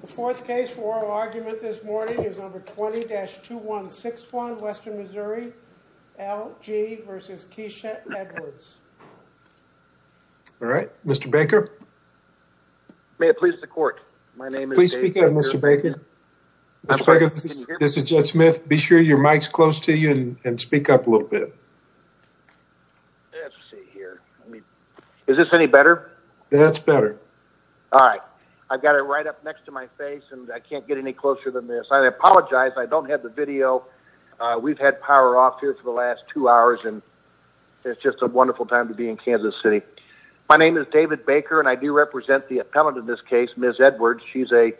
The fourth case for oral argument this morning is number 20-2161, Western Missouri, L.G. v. Keisha Edwards. All right, Mr. Baker. May it please the court, my name is... Please speak up, Mr. Baker. Mr. Baker, this is Judge Smith. Be sure your mic's close to you and speak up a little bit. Let's see here. Is this any better? That's better. All right, I've got it right up next to my face and I can't get any closer than this. I apologize, I don't have the video. We've had power off here for the last two hours and it's just a wonderful time to be in Kansas City. My name is David Baker and I do represent the appellant in this case, Ms. Edwards. She's a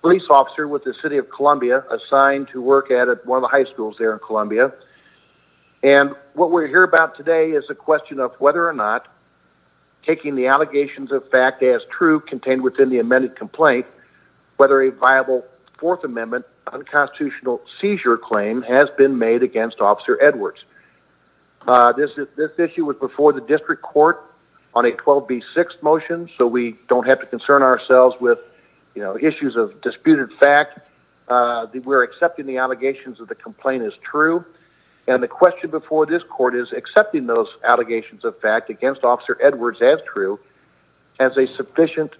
police officer with the city of Columbia assigned to work at one of the high schools there in Columbia. And what we're here about today is a question of whether or not taking the allegations of fact as true contained within the amended complaint, whether a viable Fourth Amendment unconstitutional seizure claim has been made against Officer Edwards. This issue was before the district court on a 12B6 motion, so we don't have to concern ourselves with issues of disputed fact. We're accepting the allegations of the complaint as true. And the question before this court is accepting those allegations of fact against Officer Edwards as true as a sufficient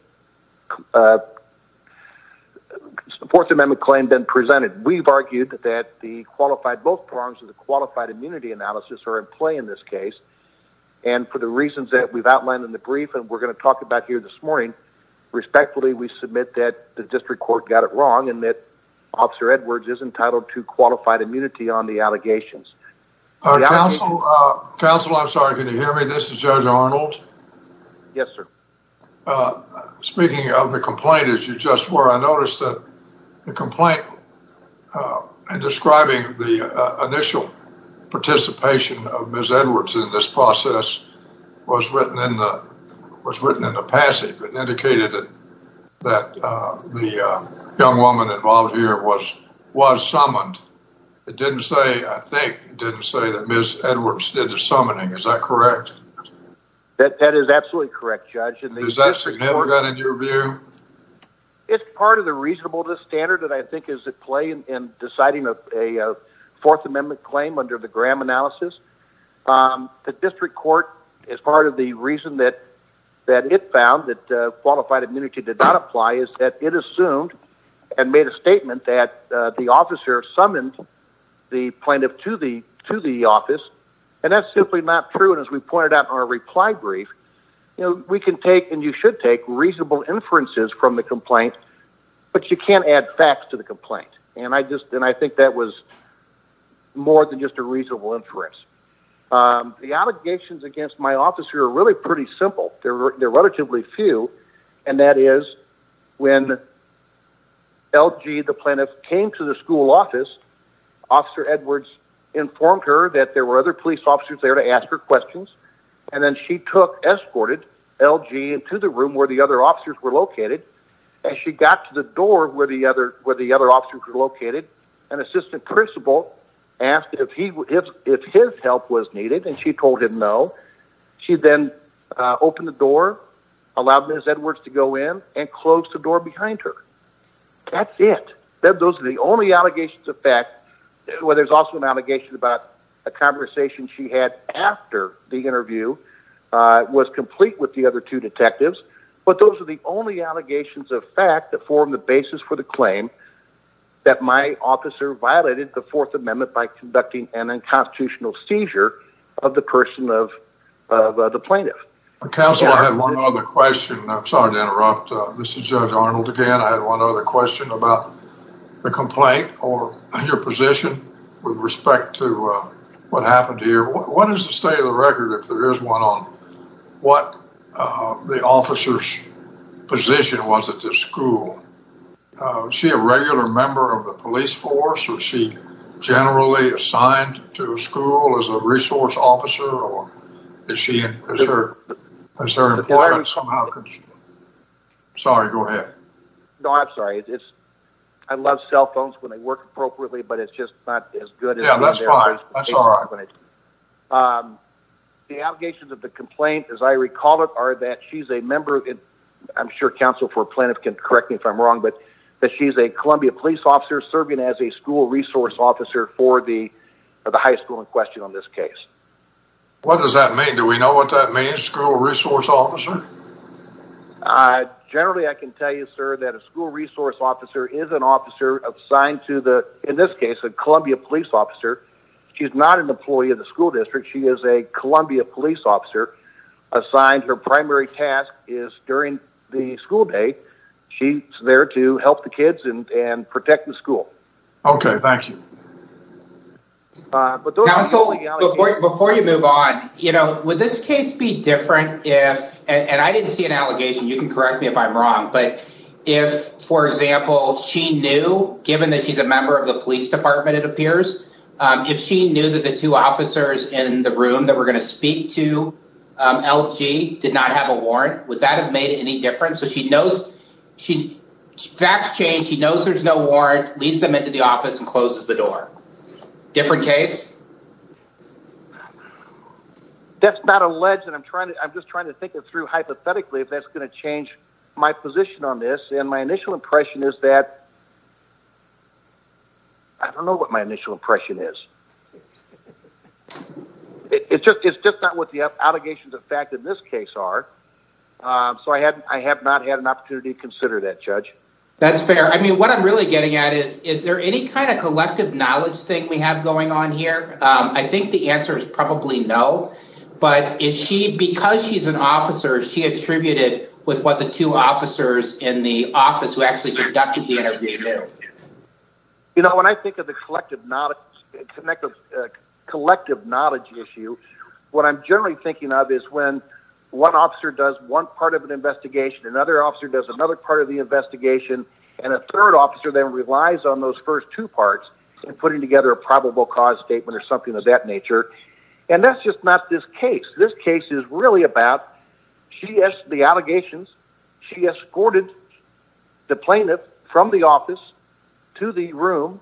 Fourth Amendment claim been presented. We've argued that the qualified both prongs of the qualified immunity analysis are in play in this case. And for the reasons that we've outlined in the brief and we're going to talk about here this morning, respectfully, we submit that the district court got it wrong and that Officer Edwards is entitled to qualified immunity on the allegations. Counselor, I'm sorry. Can you hear me? This is Judge Arnold. Yes, sir. Speaking of the complaint, as you just were, I noticed that the complaint describing the initial participation of Ms. Edwards in this process was written in the passive. It indicated that the young woman involved here was summoned. It didn't say, I think, it didn't say that Ms. Edwards did the summoning. Is that correct? That is absolutely correct, Judge. Is that significant in your view? It's part of the reasonableness standard that I think is at play in deciding a Fourth Amendment claim under the Graham analysis. The district court, as part of the reason that it found that qualified immunity did not apply, is that it assumed and made a statement that the officer summoned the plaintiff to the office. That's simply not true. As we pointed out in our reply brief, we can take and you should take reasonable inferences from the complaint, but you can't add facts to the complaint. I think that was more than just a reasonable inference. The allegations against my officer are really pretty simple. They're relatively few, and that is when LG, the plaintiff, came to the school office, Officer Edwards informed her that there were other police officers there to ask her questions, and then she took, escorted LG into the room where the other officers were located. As she got to the door where the other officers were located, an assistant principal asked if his help was needed, and she told him no. She then opened the door, allowed Ms. Edwards to go in, and closed the door behind her. That's it. Those are the only allegations of fact. Well, there's also an allegation about a conversation she had after the interview was complete with the other two detectives, but those are the only allegations of fact that an unconstitutional seizure of the person of the plaintiff. Counsel, I have one other question. I'm sorry to interrupt. This is Judge Arnold again. I had one other question about the complaint or your position with respect to what happened here. What is the state of the record if there is one on what the officer's position was at this school? Is she a regular member of the police force, or is she generally assigned to a school as a resource officer? Or is she, is her employment somehow... Sorry, go ahead. No, I'm sorry. I love cell phones when they work appropriately, but it's just not as good as... Yeah, that's fine. That's all right. The allegations of the complaint, as I recall it, are that she's a member of... I'm sure counsel for plaintiff can correct me if I'm wrong, but that she's a Columbia police officer serving as a school resource officer for the high school in question on this case. What does that mean? Do we know what that means, school resource officer? Generally, I can tell you, sir, that a school resource officer is an officer assigned to the, in this case, a Columbia police officer. She's not an employee of the school district. She is a Columbia police officer assigned. Her primary task is during the school day, she's there to help the kids and protect the school. Okay, thank you. Before you move on, would this case be different if, and I didn't see an allegation, you can correct me if I'm wrong, but if, for example, she knew, given that she's a member of the room that we're going to speak to, LG did not have a warrant, would that have made any difference? So she knows, facts change, she knows there's no warrant, leads them into the office and closes the door. Different case? That's not alleged. And I'm trying to, I'm just trying to think it through hypothetically if that's going to change my position on this. And my initial impression is that, I don't know what my initial impression is. It's just, it's just not what the allegations of fact in this case are. So I hadn't, I have not had an opportunity to consider that judge. That's fair. I mean, what I'm really getting at is, is there any kind of collective knowledge thing we have going on here? I think the answer is probably no, but is she, because she's an officer, she attributed with what the two officers in the office who actually conducted the interview. You know, when I think of the collective knowledge, connective collective knowledge issue, what I'm generally thinking of is when one officer does one part of an investigation, another officer does another part of the investigation. And a third officer then relies on those first two parts and putting together a probable cause statement or something of that nature. And that's just not this case. This case is really about, she has the allegations, she escorted the plaintiff from the office to the room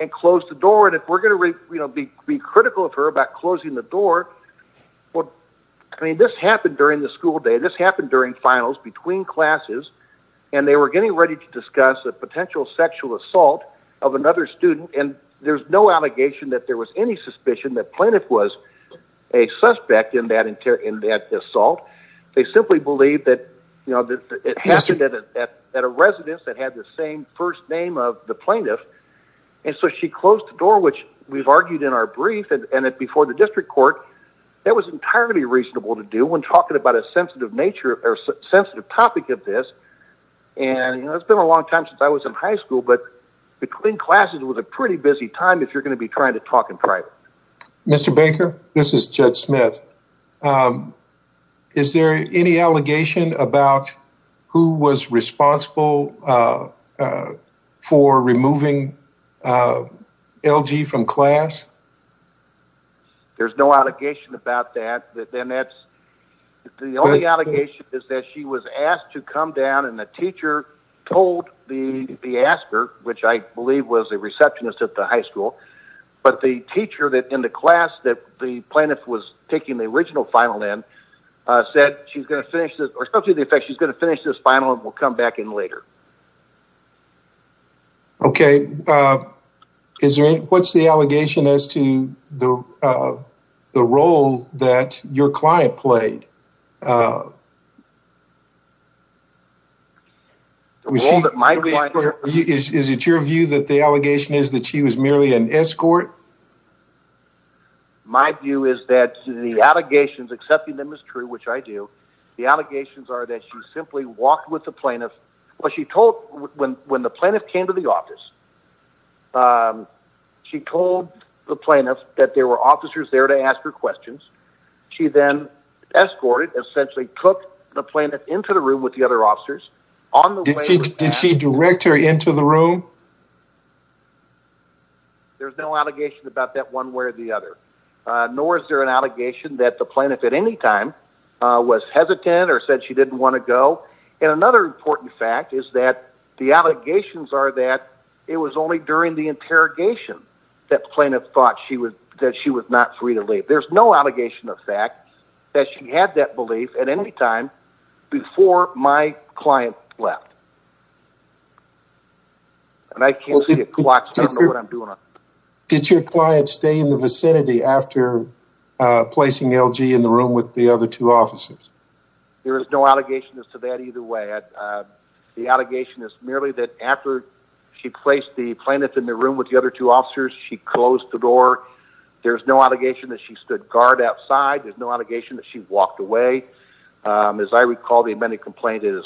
and closed the door. And if we're going to be critical of her about closing the door, I mean, this happened during the school day. This happened during finals between classes and they were getting ready to discuss a potential sexual assault of another student. And there's no allegation that there was any suspicion that plaintiff was a suspect in that assault. They simply believe that, you know, it happened at a residence that had the same first name of the plaintiff. And so she closed the door, which we've argued in our brief, and that before the district court, that was entirely reasonable to do when talking about a sensitive nature or sensitive topic of this. And, you know, it's been a long time since I was in high school, but between classes was a pretty busy time if you're going to be trying to talk in private. Mr. Baker, this is Judge Smith. Is there any allegation about who was responsible for removing LG from class? There's no allegation about that. The only allegation is that she was asked to come down and the teacher told the asker, which I believe was a receptionist at the high school. But the teacher that in the class that the plaintiff was taking the original final in said she's going to finish this or something to the effect she's going to finish this final and we'll come back in later. Okay. What's the allegation as to the role that your client played? Uh, is it your view that the allegation is that she was merely an escort? My view is that the allegations accepting them is true, which I do. The allegations are that she simply walked with the plaintiff, but she told when the plaintiff came to the office, she told the plaintiff that there were officers there to cook the plaintiff into the room with the other officers. Did she direct her into the room? There's no allegation about that one way or the other. Nor is there an allegation that the plaintiff at any time was hesitant or said she didn't want to go. And another important fact is that the allegations are that it was only during the interrogation that plaintiff thought she was, that she was not free to leave. There's no allegation of fact that she had that belief at any time before my client left. And I can't see a clock. Did your client stay in the vicinity after placing LG in the room with the other two officers? There is no allegation as to that either way. The allegation is merely that after she placed the plaintiff in the room with the other two guard outside, there's no allegation that she walked away. As I recall, the amended complaint is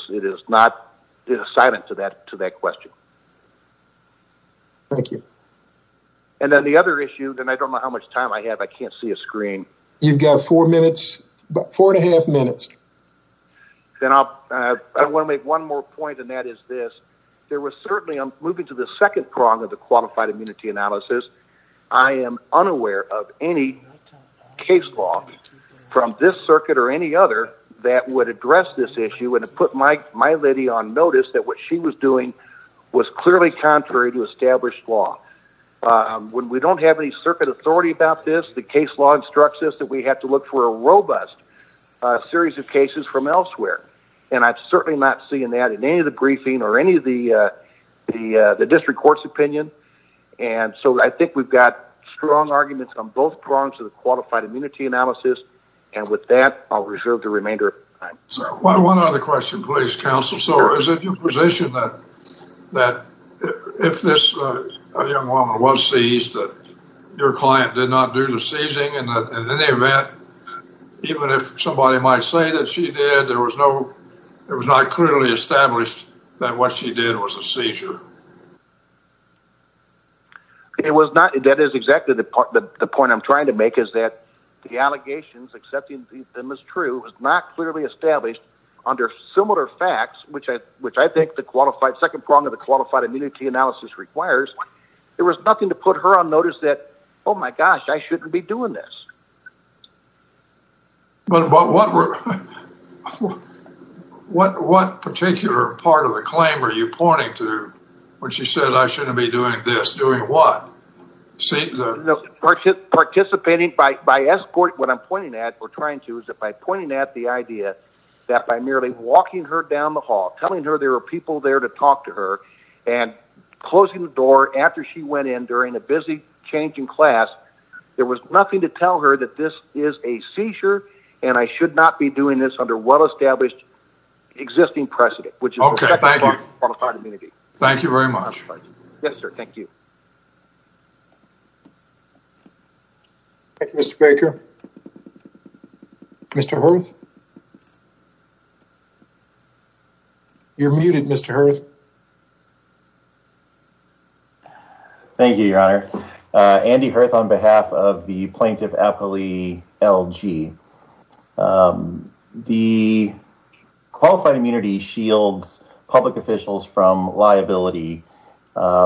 not silent to that question. Thank you. And then the other issue, and I don't know how much time I have, I can't see a screen. You've got four minutes, about four and a half minutes. Then I'll, I want to make one more point and that is this. There was certainly, I'm moving to the second prong of the qualified immunity analysis. I am unaware of any case law from this circuit or any other that would address this issue. And it put my lady on notice that what she was doing was clearly contrary to established law. When we don't have any circuit authority about this, the case law instructs us that we have to look for a robust series of cases from elsewhere. And I've certainly not seen that in any of the briefing or any of the district court's opinion. And so I think we've got strong arguments on both prongs of the qualified immunity analysis. And with that, I'll reserve the remainder of time. So one other question, please, counsel. So is it your position that if this young woman was seized, that your client did not do the seizing? And in any event, even if somebody might say that she did, there was no, it was not clearly established that what she did was a seizure. It was not, that is exactly the point I'm trying to make is that the allegations accepting them as true was not clearly established under similar facts, which I think the qualified second prong of the qualified immunity analysis requires. There was nothing to put her on notice that, oh my gosh, I shouldn't be doing this. But what particular part of the claim are you pointing to when she said I shouldn't be doing this? Doing what? Participating by escort. What I'm pointing at or trying to is that by pointing at the idea that by merely walking her down the hall, telling her there are people there to talk to her and closing the door after she went in during a busy changing class, there was nothing to tell her that this is a seizure and I should not be doing this under well-established existing precedent, which is the second prong of the qualified immunity. Thank you very much. Yes, sir. Thank you. Thank you, Mr. Baker. Mr. Hurth. You're muted, Mr. Hurth. Thank you, your honor. Andy Hurth on behalf of the plaintiff, Apolli L.G. The qualified immunity shields public officials from liability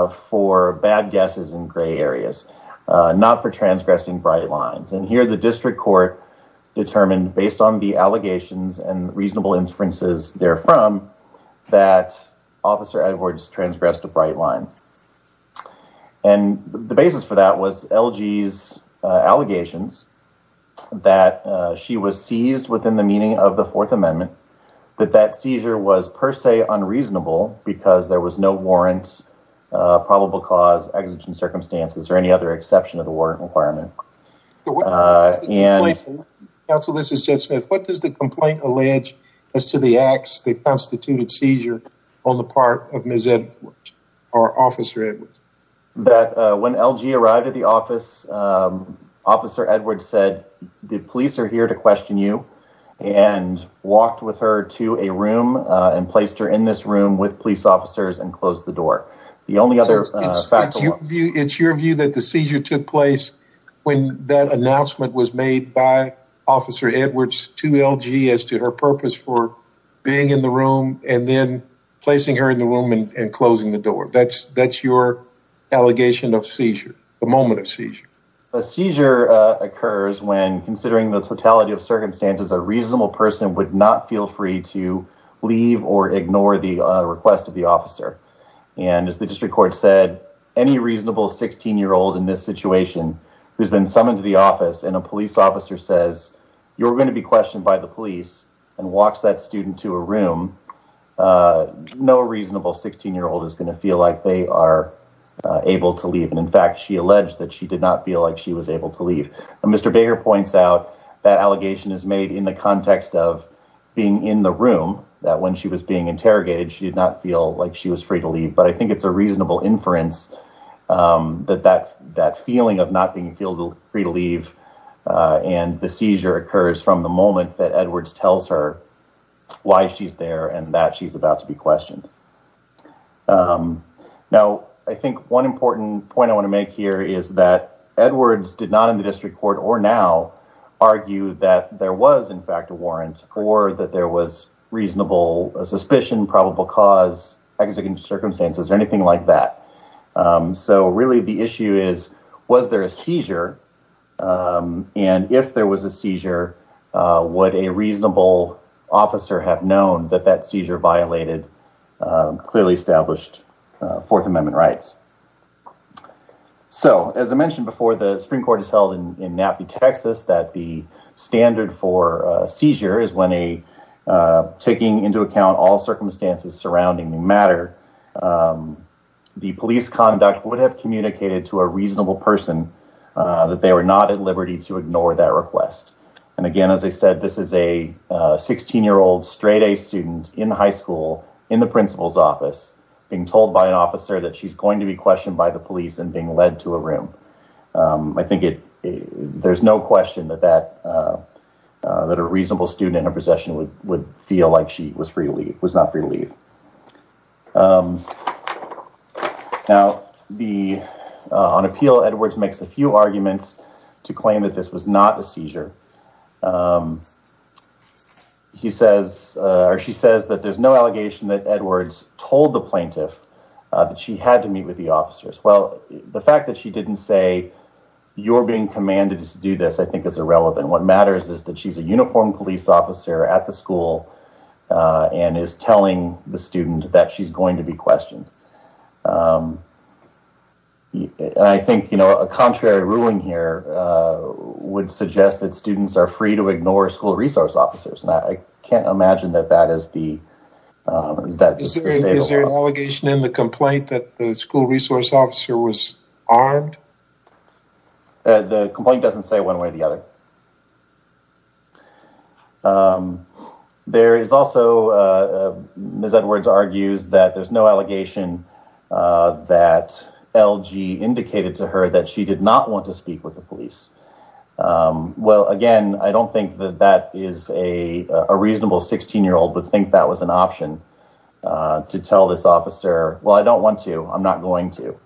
for bad guesses in gray areas, not for transgressing bright lines. And here the district court determined based on the allegations and reasonable inferences therefrom that Officer Edwards transgressed a bright line. And the basis for that was L.G.'s allegations that she was seized within the meaning of the Fourth Amendment, that that seizure was per se unreasonable because there was no warrant, probable cause, exigent circumstances, or any other exception of the warrant requirement. Counsel, this is Jed Smith. What does the complaint allege as to the acts that constituted seizure on the part of Ms. Edwards, or Officer Edwards? When L.G. arrived at the office, Officer Edwards said, the police are here to question you, and walked with her to a room and placed her in this room with police officers and closed the door. The only other factual... It's your view that the seizure took place when that announcement was made by Officer Edwards to L.G. as to her purpose for being in the room and then placing her in the room and closing the door. That's your allegation of seizure, the moment of seizure. A seizure occurs when, considering the totality of circumstances, a reasonable person would not feel free to leave or ignore the request of the officer. And as the district court said, any reasonable 16-year-old in this situation who's been summoned to the office and a police officer says, you're going to be questioned by the police, and walks that student to a room, no reasonable 16-year-old is going to feel like they are able to leave. And in fact, she alleged that she did not feel like she was able to leave. Mr. Baker points out that allegation is made in the context of being in the room, that when she was being interrogated, she did not feel like she was free to leave. But I think it's a reasonable inference that that feeling of not being free to leave and the seizure occurs from the moment that Edwards tells her why she's there and that she's about to be questioned. Now, I think one important point I want to make here is that Edwards did not, in the district court or now, argue that there was, in fact, a warrant or that there was reasonable suspicion, probable cause, exigent circumstances or anything like that. So really, the issue is, was there a seizure? And if there was a seizure, would a reasonable officer have known that that seizure violated clearly established Fourth Amendment rights? So, as I mentioned before, the Supreme Court has held in Nappy, Texas, that the standard for a seizure is when a, taking into account all circumstances surrounding the matter, the police conduct would have communicated to a reasonable person that they were not at liberty to ignore that request. And again, as I said, this is a 16-year-old straight-A student in high school in the principal's office being told by an officer that she's going to be questioned by the police and being led to a room. I think there's no question that a reasonable student in her possession would feel like she was free to leave, was not free to leave. Now, the, on appeal, Edwards makes a few arguments to claim that this was not a seizure. He says, or she says that there's no allegation that Edwards told the plaintiff that she had to meet with the officers. Well, the fact that she didn't say, you're being commanded to do this, I think is irrelevant. What matters is that she's a uniformed police officer at the school and is telling the student that she's going to be questioned. And I think, you know, a contrary ruling here would suggest that students are free to ignore school resource officers. And I can't imagine that that is the, is that- Is there an allegation in the complaint that the school resource officer was armed? The complaint doesn't say one way or the other. But there is also, Ms. Edwards argues that there's no allegation that LG indicated to her that she did not want to speak with the police. Well, again, I don't think that that is a reasonable 16-year-old would think that was an option to tell this officer, well, I don't want to, I'm not going to.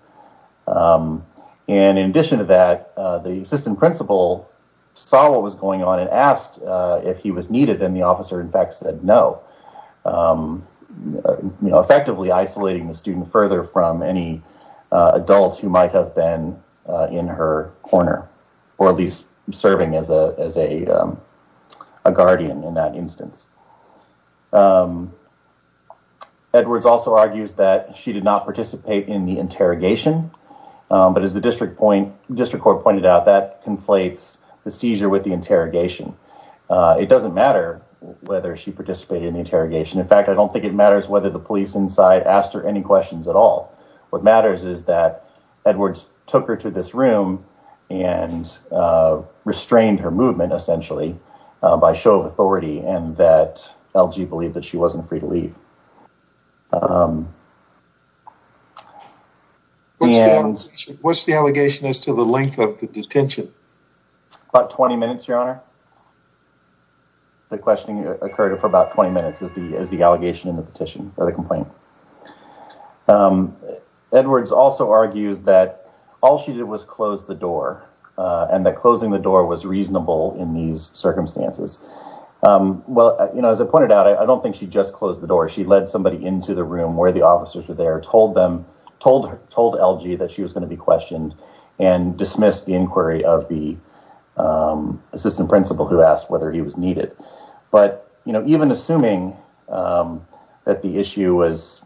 And in addition to that, the assistant principal saw what was going on and asked if he was needed. And the officer, in fact, said no. You know, effectively isolating the student further from any adults who might have been in her corner, or at least serving as a guardian in that instance. Edwards also argues that she did not participate in the interrogation. But as the district court pointed out, that conflates the seizure with the interrogation. It doesn't matter whether she participated in the interrogation. In fact, I don't think it matters whether the police inside asked her any questions at all. What matters is that Edwards took her to this room and restrained her movement, essentially, by show of authority and that LG believed that she wasn't free to leave. What's the allegation as to the length of the detention? About 20 minutes, your honor. The questioning occurred for about 20 minutes as the allegation in the petition, or the complaint. Edwards also argues that all she did was close the door and that closing the door was reasonable in these circumstances. Well, you know, as I pointed out, I don't think she just closed the door. She closed the door to the detention. She led somebody into the room where the officers were there, told LG that she was going to be questioned and dismissed the inquiry of the assistant principal who asked whether he was needed. But, you know, even assuming that the issue was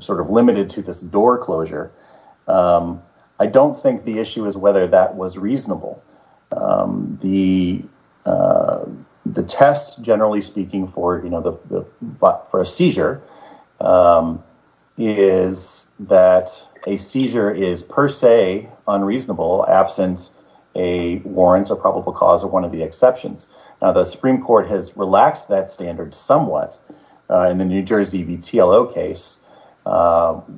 sort of limited to this door closure, I don't think the issue is whether that was reasonable. The test, generally speaking, for a seizure is that a seizure is per se unreasonable absent a warrant or probable cause of one of the exceptions. Now, the Supreme Court has relaxed that standard somewhat in the New Jersey, the TLO case,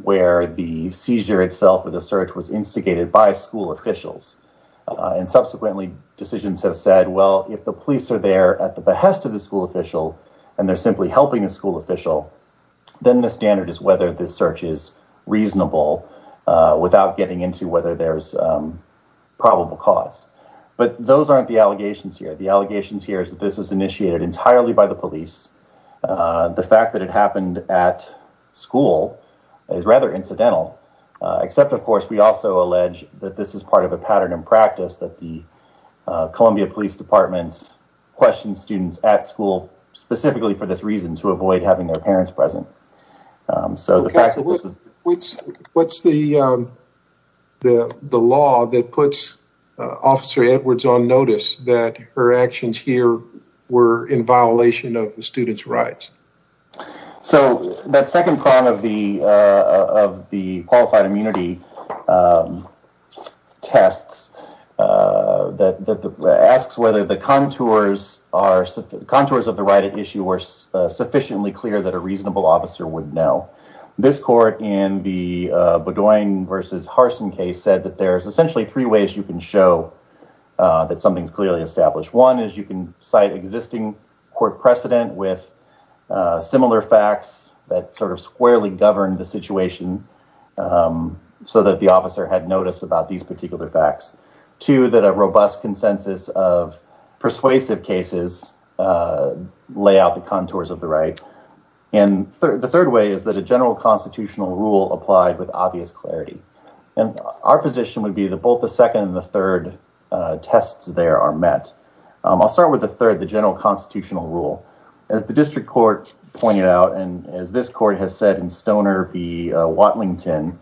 where the seizure itself or the search was instigated by school officials. And subsequently, decisions have said, well, if the police are there at the behest of the school official and they're simply helping a school official, then the standard is whether this search is reasonable without getting into whether there's probable cause. But those aren't the allegations here. The allegations here is that this was initiated entirely by the police. The fact that it happened at school is rather incidental, except, of course, we also allege that this is part of a pattern in practice that the Columbia Police Department questions students at school specifically for this reason, to avoid having their parents present. So the fact that this was- What's the law that puts Officer Edwards on notice of the student's rights? So that second prong of the qualified immunity tests asks whether the contours of the right at issue were sufficiently clear that a reasonable officer would know. This court in the Bedoin versus Harsin case said that there's essentially three ways you can show that something's clearly established. One is you can cite existing court precedent with similar facts that sort of squarely govern the situation so that the officer had notice about these particular facts. Two, that a robust consensus of persuasive cases lay out the contours of the right. And the third way is that a general constitutional rule applied with obvious clarity. And our position would be that both the second and the third tests there are met. I'll start with the third, the general constitutional rule, as the district court pointed out, and as this court has said in Stoner v. Watlington,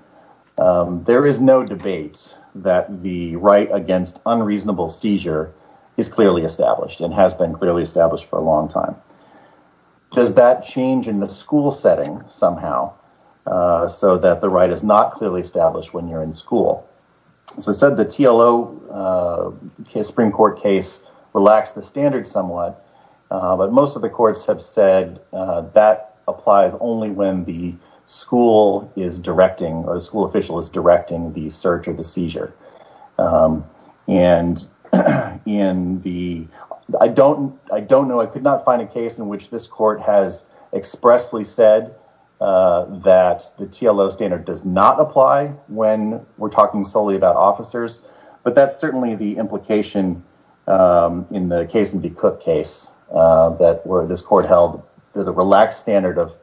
there is no debate that the right against unreasonable seizure is clearly established and has been clearly established for a long time. Does that change in the school setting somehow so that the right is not clearly established when you're in school? As I said, the TLO Supreme Court case relaxed the standard somewhat, but most of the courts have said that applies only when the school is directing or the school official is directing the search or the seizure. And I don't know, I could not find a case in which this court has expressly said that the TLO standard does not apply when we're talking solely about officers, but that's certainly the implication in the Kaysen v. Cook case that where this court held the relaxed standard of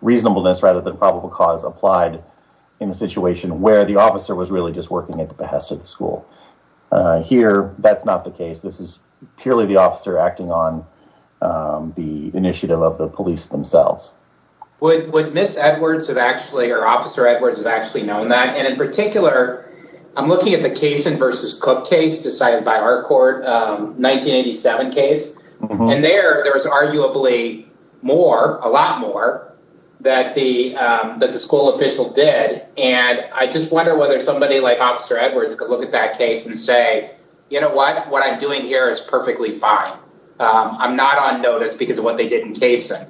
reasonableness rather than probable cause applied in a situation where the officer was really just working at the behest of the school. Here, that's not the case. This is purely the officer acting on the initiative of the police themselves. Would Ms. Edwards have actually, or Officer Edwards have actually known that? And in particular, I'm looking at the Kaysen v. Cook case decided by our court, 1987 case. And there, there was arguably more, a lot more that the school official did. And I just wonder whether somebody like Officer Edwards could look at that case and say, you know what? What I'm doing here is perfectly fine. I'm not on notice because of what they did in Kaysen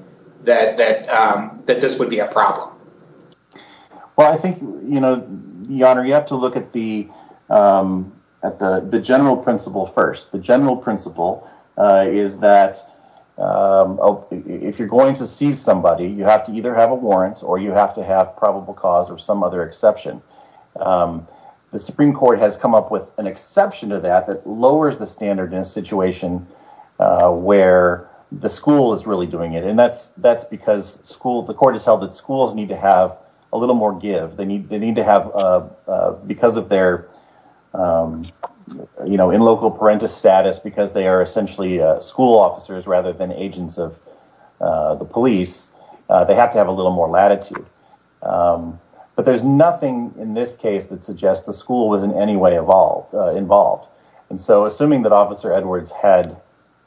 Well, I think, you know, Your Honor, you have to look at the general principle first. The general principle is that if you're going to seize somebody, you have to either have a warrant or you have to have probable cause or some other exception. The Supreme Court has come up with an exception to that that lowers the standard in a situation where the school is really doing it. And that's because the court has held that schools need to have a little more give. They need to have, because of their, you know, in local parentis status, because they are essentially school officers rather than agents of the police, they have to have a little more latitude. But there's nothing in this case that suggests the school was in any way involved. And so assuming that Officer Edwards had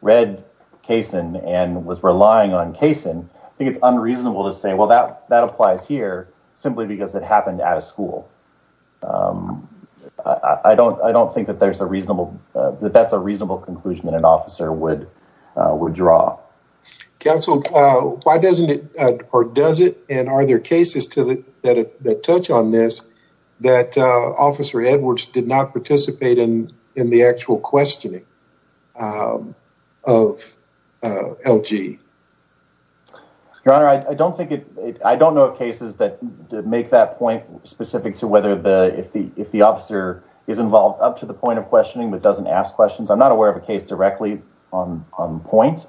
read Kaysen and was relying on Kaysen, I think it's unreasonable to say, well, that applies here simply because it happened at a school. I don't think that there's a reasonable, that that's a reasonable conclusion that an officer would draw. Counsel, why doesn't it, or does it, and are there cases that touch on this that Officer Edwards did not participate in the actual questioning of LG? Your Honor, I don't think it, I don't know of cases that make that point specific to whether if the officer is involved up to the point of questioning but doesn't ask questions. I'm not aware of a case directly on point,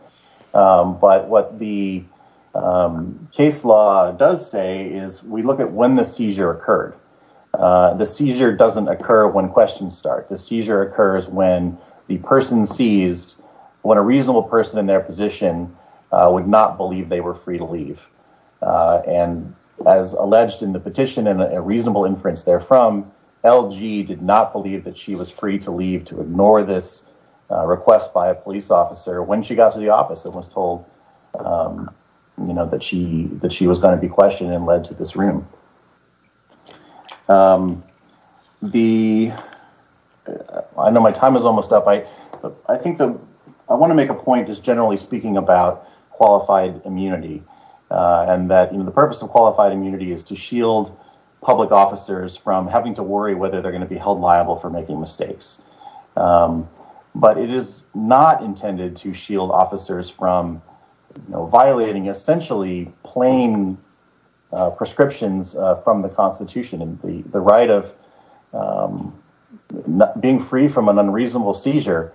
but what the case law does say is we look at when the seizure occurred. The seizure doesn't occur when questions start. The seizure occurs when the person sees, when a reasonable person in their position would not believe they were free to leave. And as alleged in the petition and a reasonable inference therefrom, LG did not believe that she was free to leave to ignore this request by a police officer when she got to the office and was told that she was going to be questioned and led to this room. The, I know my time is almost up. I think the, I want to make a point just generally speaking about qualified immunity and that the purpose of qualified immunity is to shield public officers from having to worry whether they're going to be held liable for making mistakes. But it is not intended to shield officers from violating essentially plain prescriptions from the constitution. And the right of being free from an unreasonable seizure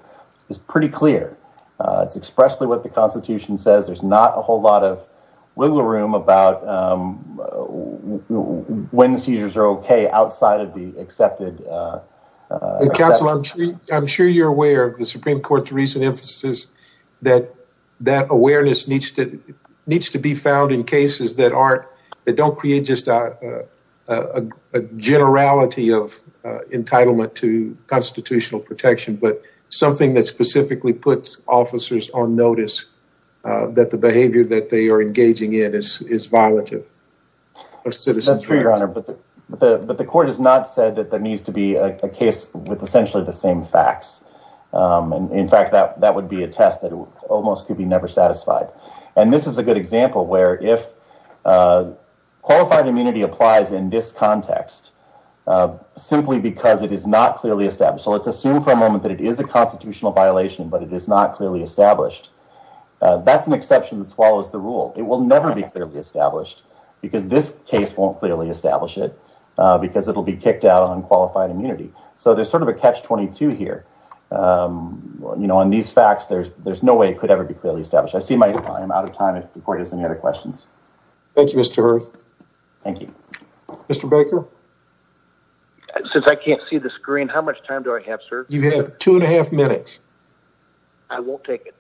is pretty clear. It's expressly what the constitution says. There's not a whole lot of wiggle room about when seizures are okay outside of the accepted. Counselor, I'm sure you're aware of the Supreme Court's recent emphasis that that awareness needs to be found in cases that aren't, that don't create just a generality of entitlement to constitutional protection, but something that specifically puts officers on notice that the behavior that they are engaging in is violative. Of citizenship. That's true, your honor. But the court has not said that there needs to be a case with essentially the same facts. And in fact, that would be a test that almost could be never satisfied. And this is a good example where if qualified immunity applies in this context, simply because it is not clearly established. So let's assume for a moment that it is a constitutional violation, but it is not clearly established. That's an exception that swallows the rule. It will never be clearly established because this case won't clearly establish it because it'll be kicked out on qualified immunity. So there's sort of a catch 22 here. On these facts, there's no way it could ever be clearly established. I see my time, I'm out of time. If the court has any other questions. Thank you, Mr. Hearst. Thank you. Mr. Baker. Since I can't see the screen, how much time do I have, sir? You have two and a half minutes. I won't take it.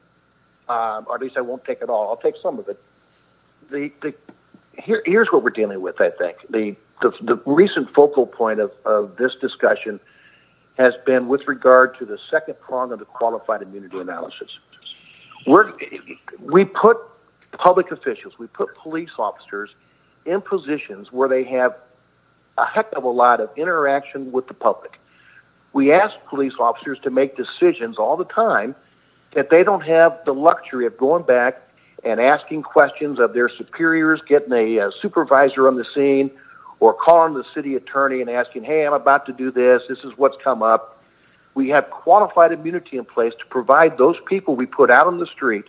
Or at least I won't take it all. I'll take some of it. Here's what we're dealing with, I think. The recent focal point of this discussion has been with regard to the second prong of the qualified immunity analysis. We put public officials, we put police officers in positions where they have a heck of a lot of interaction with the public. We ask police officers to make decisions all the time that they don't have the luxury of going back and asking questions of their superiors, getting a supervisor on the scene or calling the city attorney and asking, hey, I'm about to do this. This is what's come up. We have qualified immunity in place to provide those people we put out on the street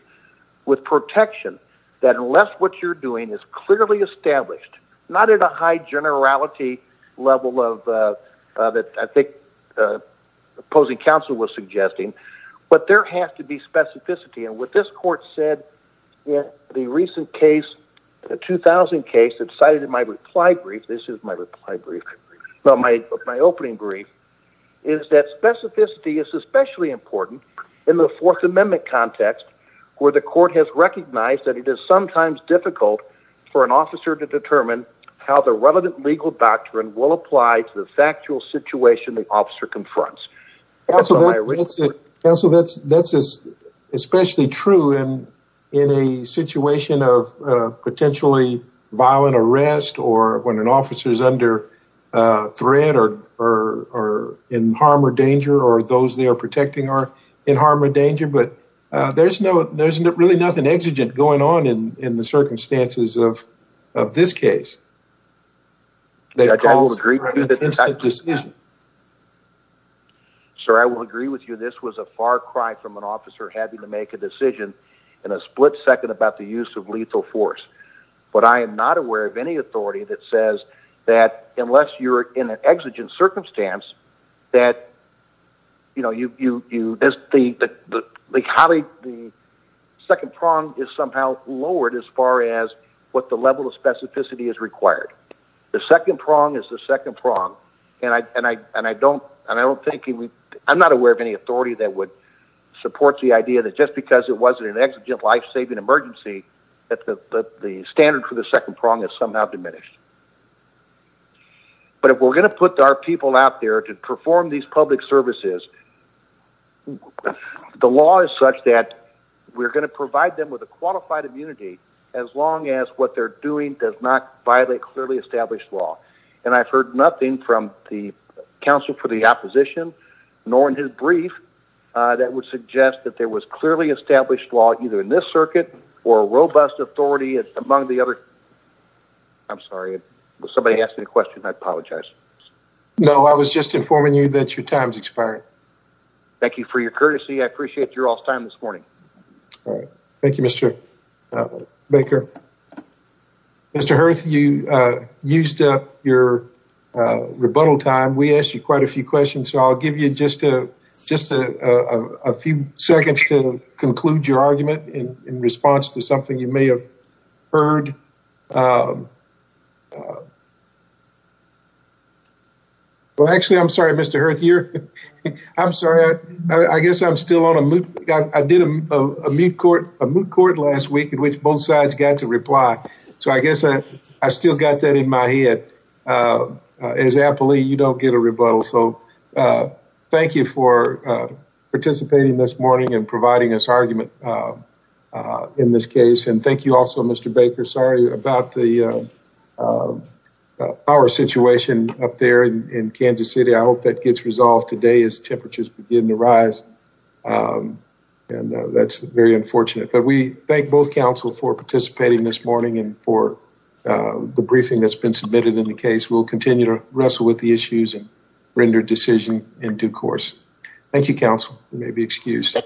with protection, that unless what you're doing is clearly established, not at a high generality level of it, I think opposing counsel was suggesting, but there has to be specificity. And what this court said, the recent case, the 2000 case that cited in my reply brief, this is my reply brief. Well, my opening brief is that specificity is especially important in the fourth amendment context where the court has recognized that it is sometimes difficult for an officer to determine how the relevant legal doctrine will apply to the factual situation the officer confronts. That's especially true in a situation of potentially violent arrest or when an officer is under threat or in harm or danger or those they are protecting are in harm or danger. But there's really nothing exigent going on in the circumstances of this case. They call it a decision. Sir, I will agree with you. This was a far cry from an officer having to make a decision in a split second about the use of lethal force. But I am not aware of any authority that says that unless you're in an exigent circumstance that, you know, you, you, you, there's the, the, the, the colleague, the second prong is somehow lowered as far as what the level of specificity is required. The second prong is the second prong. And I, and I, and I don't, and I don't think we, I'm not aware of any authority that would support the idea that just because it wasn't an exigent life-saving emergency, that the, that the standard for the second prong is somehow diminished. But if we're going to put our people out there to perform these public services, the law is such that we're going to provide them with a qualified immunity as long as what they're doing does not violate clearly established law. And I've heard nothing from the counsel for the opposition nor in his brief that would suggest that there was clearly established law either in this circuit or a robust authority among the other. I'm sorry. Was somebody asking a question? I apologize. No, I was just informing you that your time's expired. Thank you for your courtesy. I appreciate your off time this morning. All right. Thank you, Mr. Baker. Mr. Hurth, you used up your rebuttal time. We asked you quite a few questions. So I'll give you just a, just a few seconds to conclude your argument in response to something you may have heard. Well, actually, I'm sorry, Mr. Hurth, you're, I'm sorry. I guess I'm still on a moot. I did a moot court, a moot court last week in which both sides got to reply. So I guess I still got that in my head. As appellee, you don't get a rebuttal. So thank you for participating this morning and providing us argument in this case. And thank you also, Mr. Baker. Sorry about the power situation up there in Kansas City. I hope that gets resolved today as temperatures begin to rise. And that's very unfortunate. But we thank both council for participating this morning and for the briefing that's been submitted in the case. We'll continue to wrestle with the issues and render decision in due course. Thank you, council. You may be excused.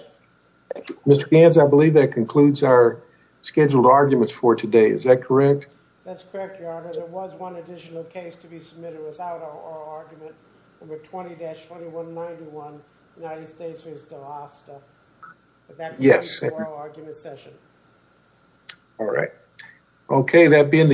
Mr. Banz, I believe that concludes our scheduled arguments for today. Is that correct? That's correct, your honor. There was one additional case to be submitted without an oral argument. Number 20-2191, United States v. Delosta. Yes. All right. Okay. That being the...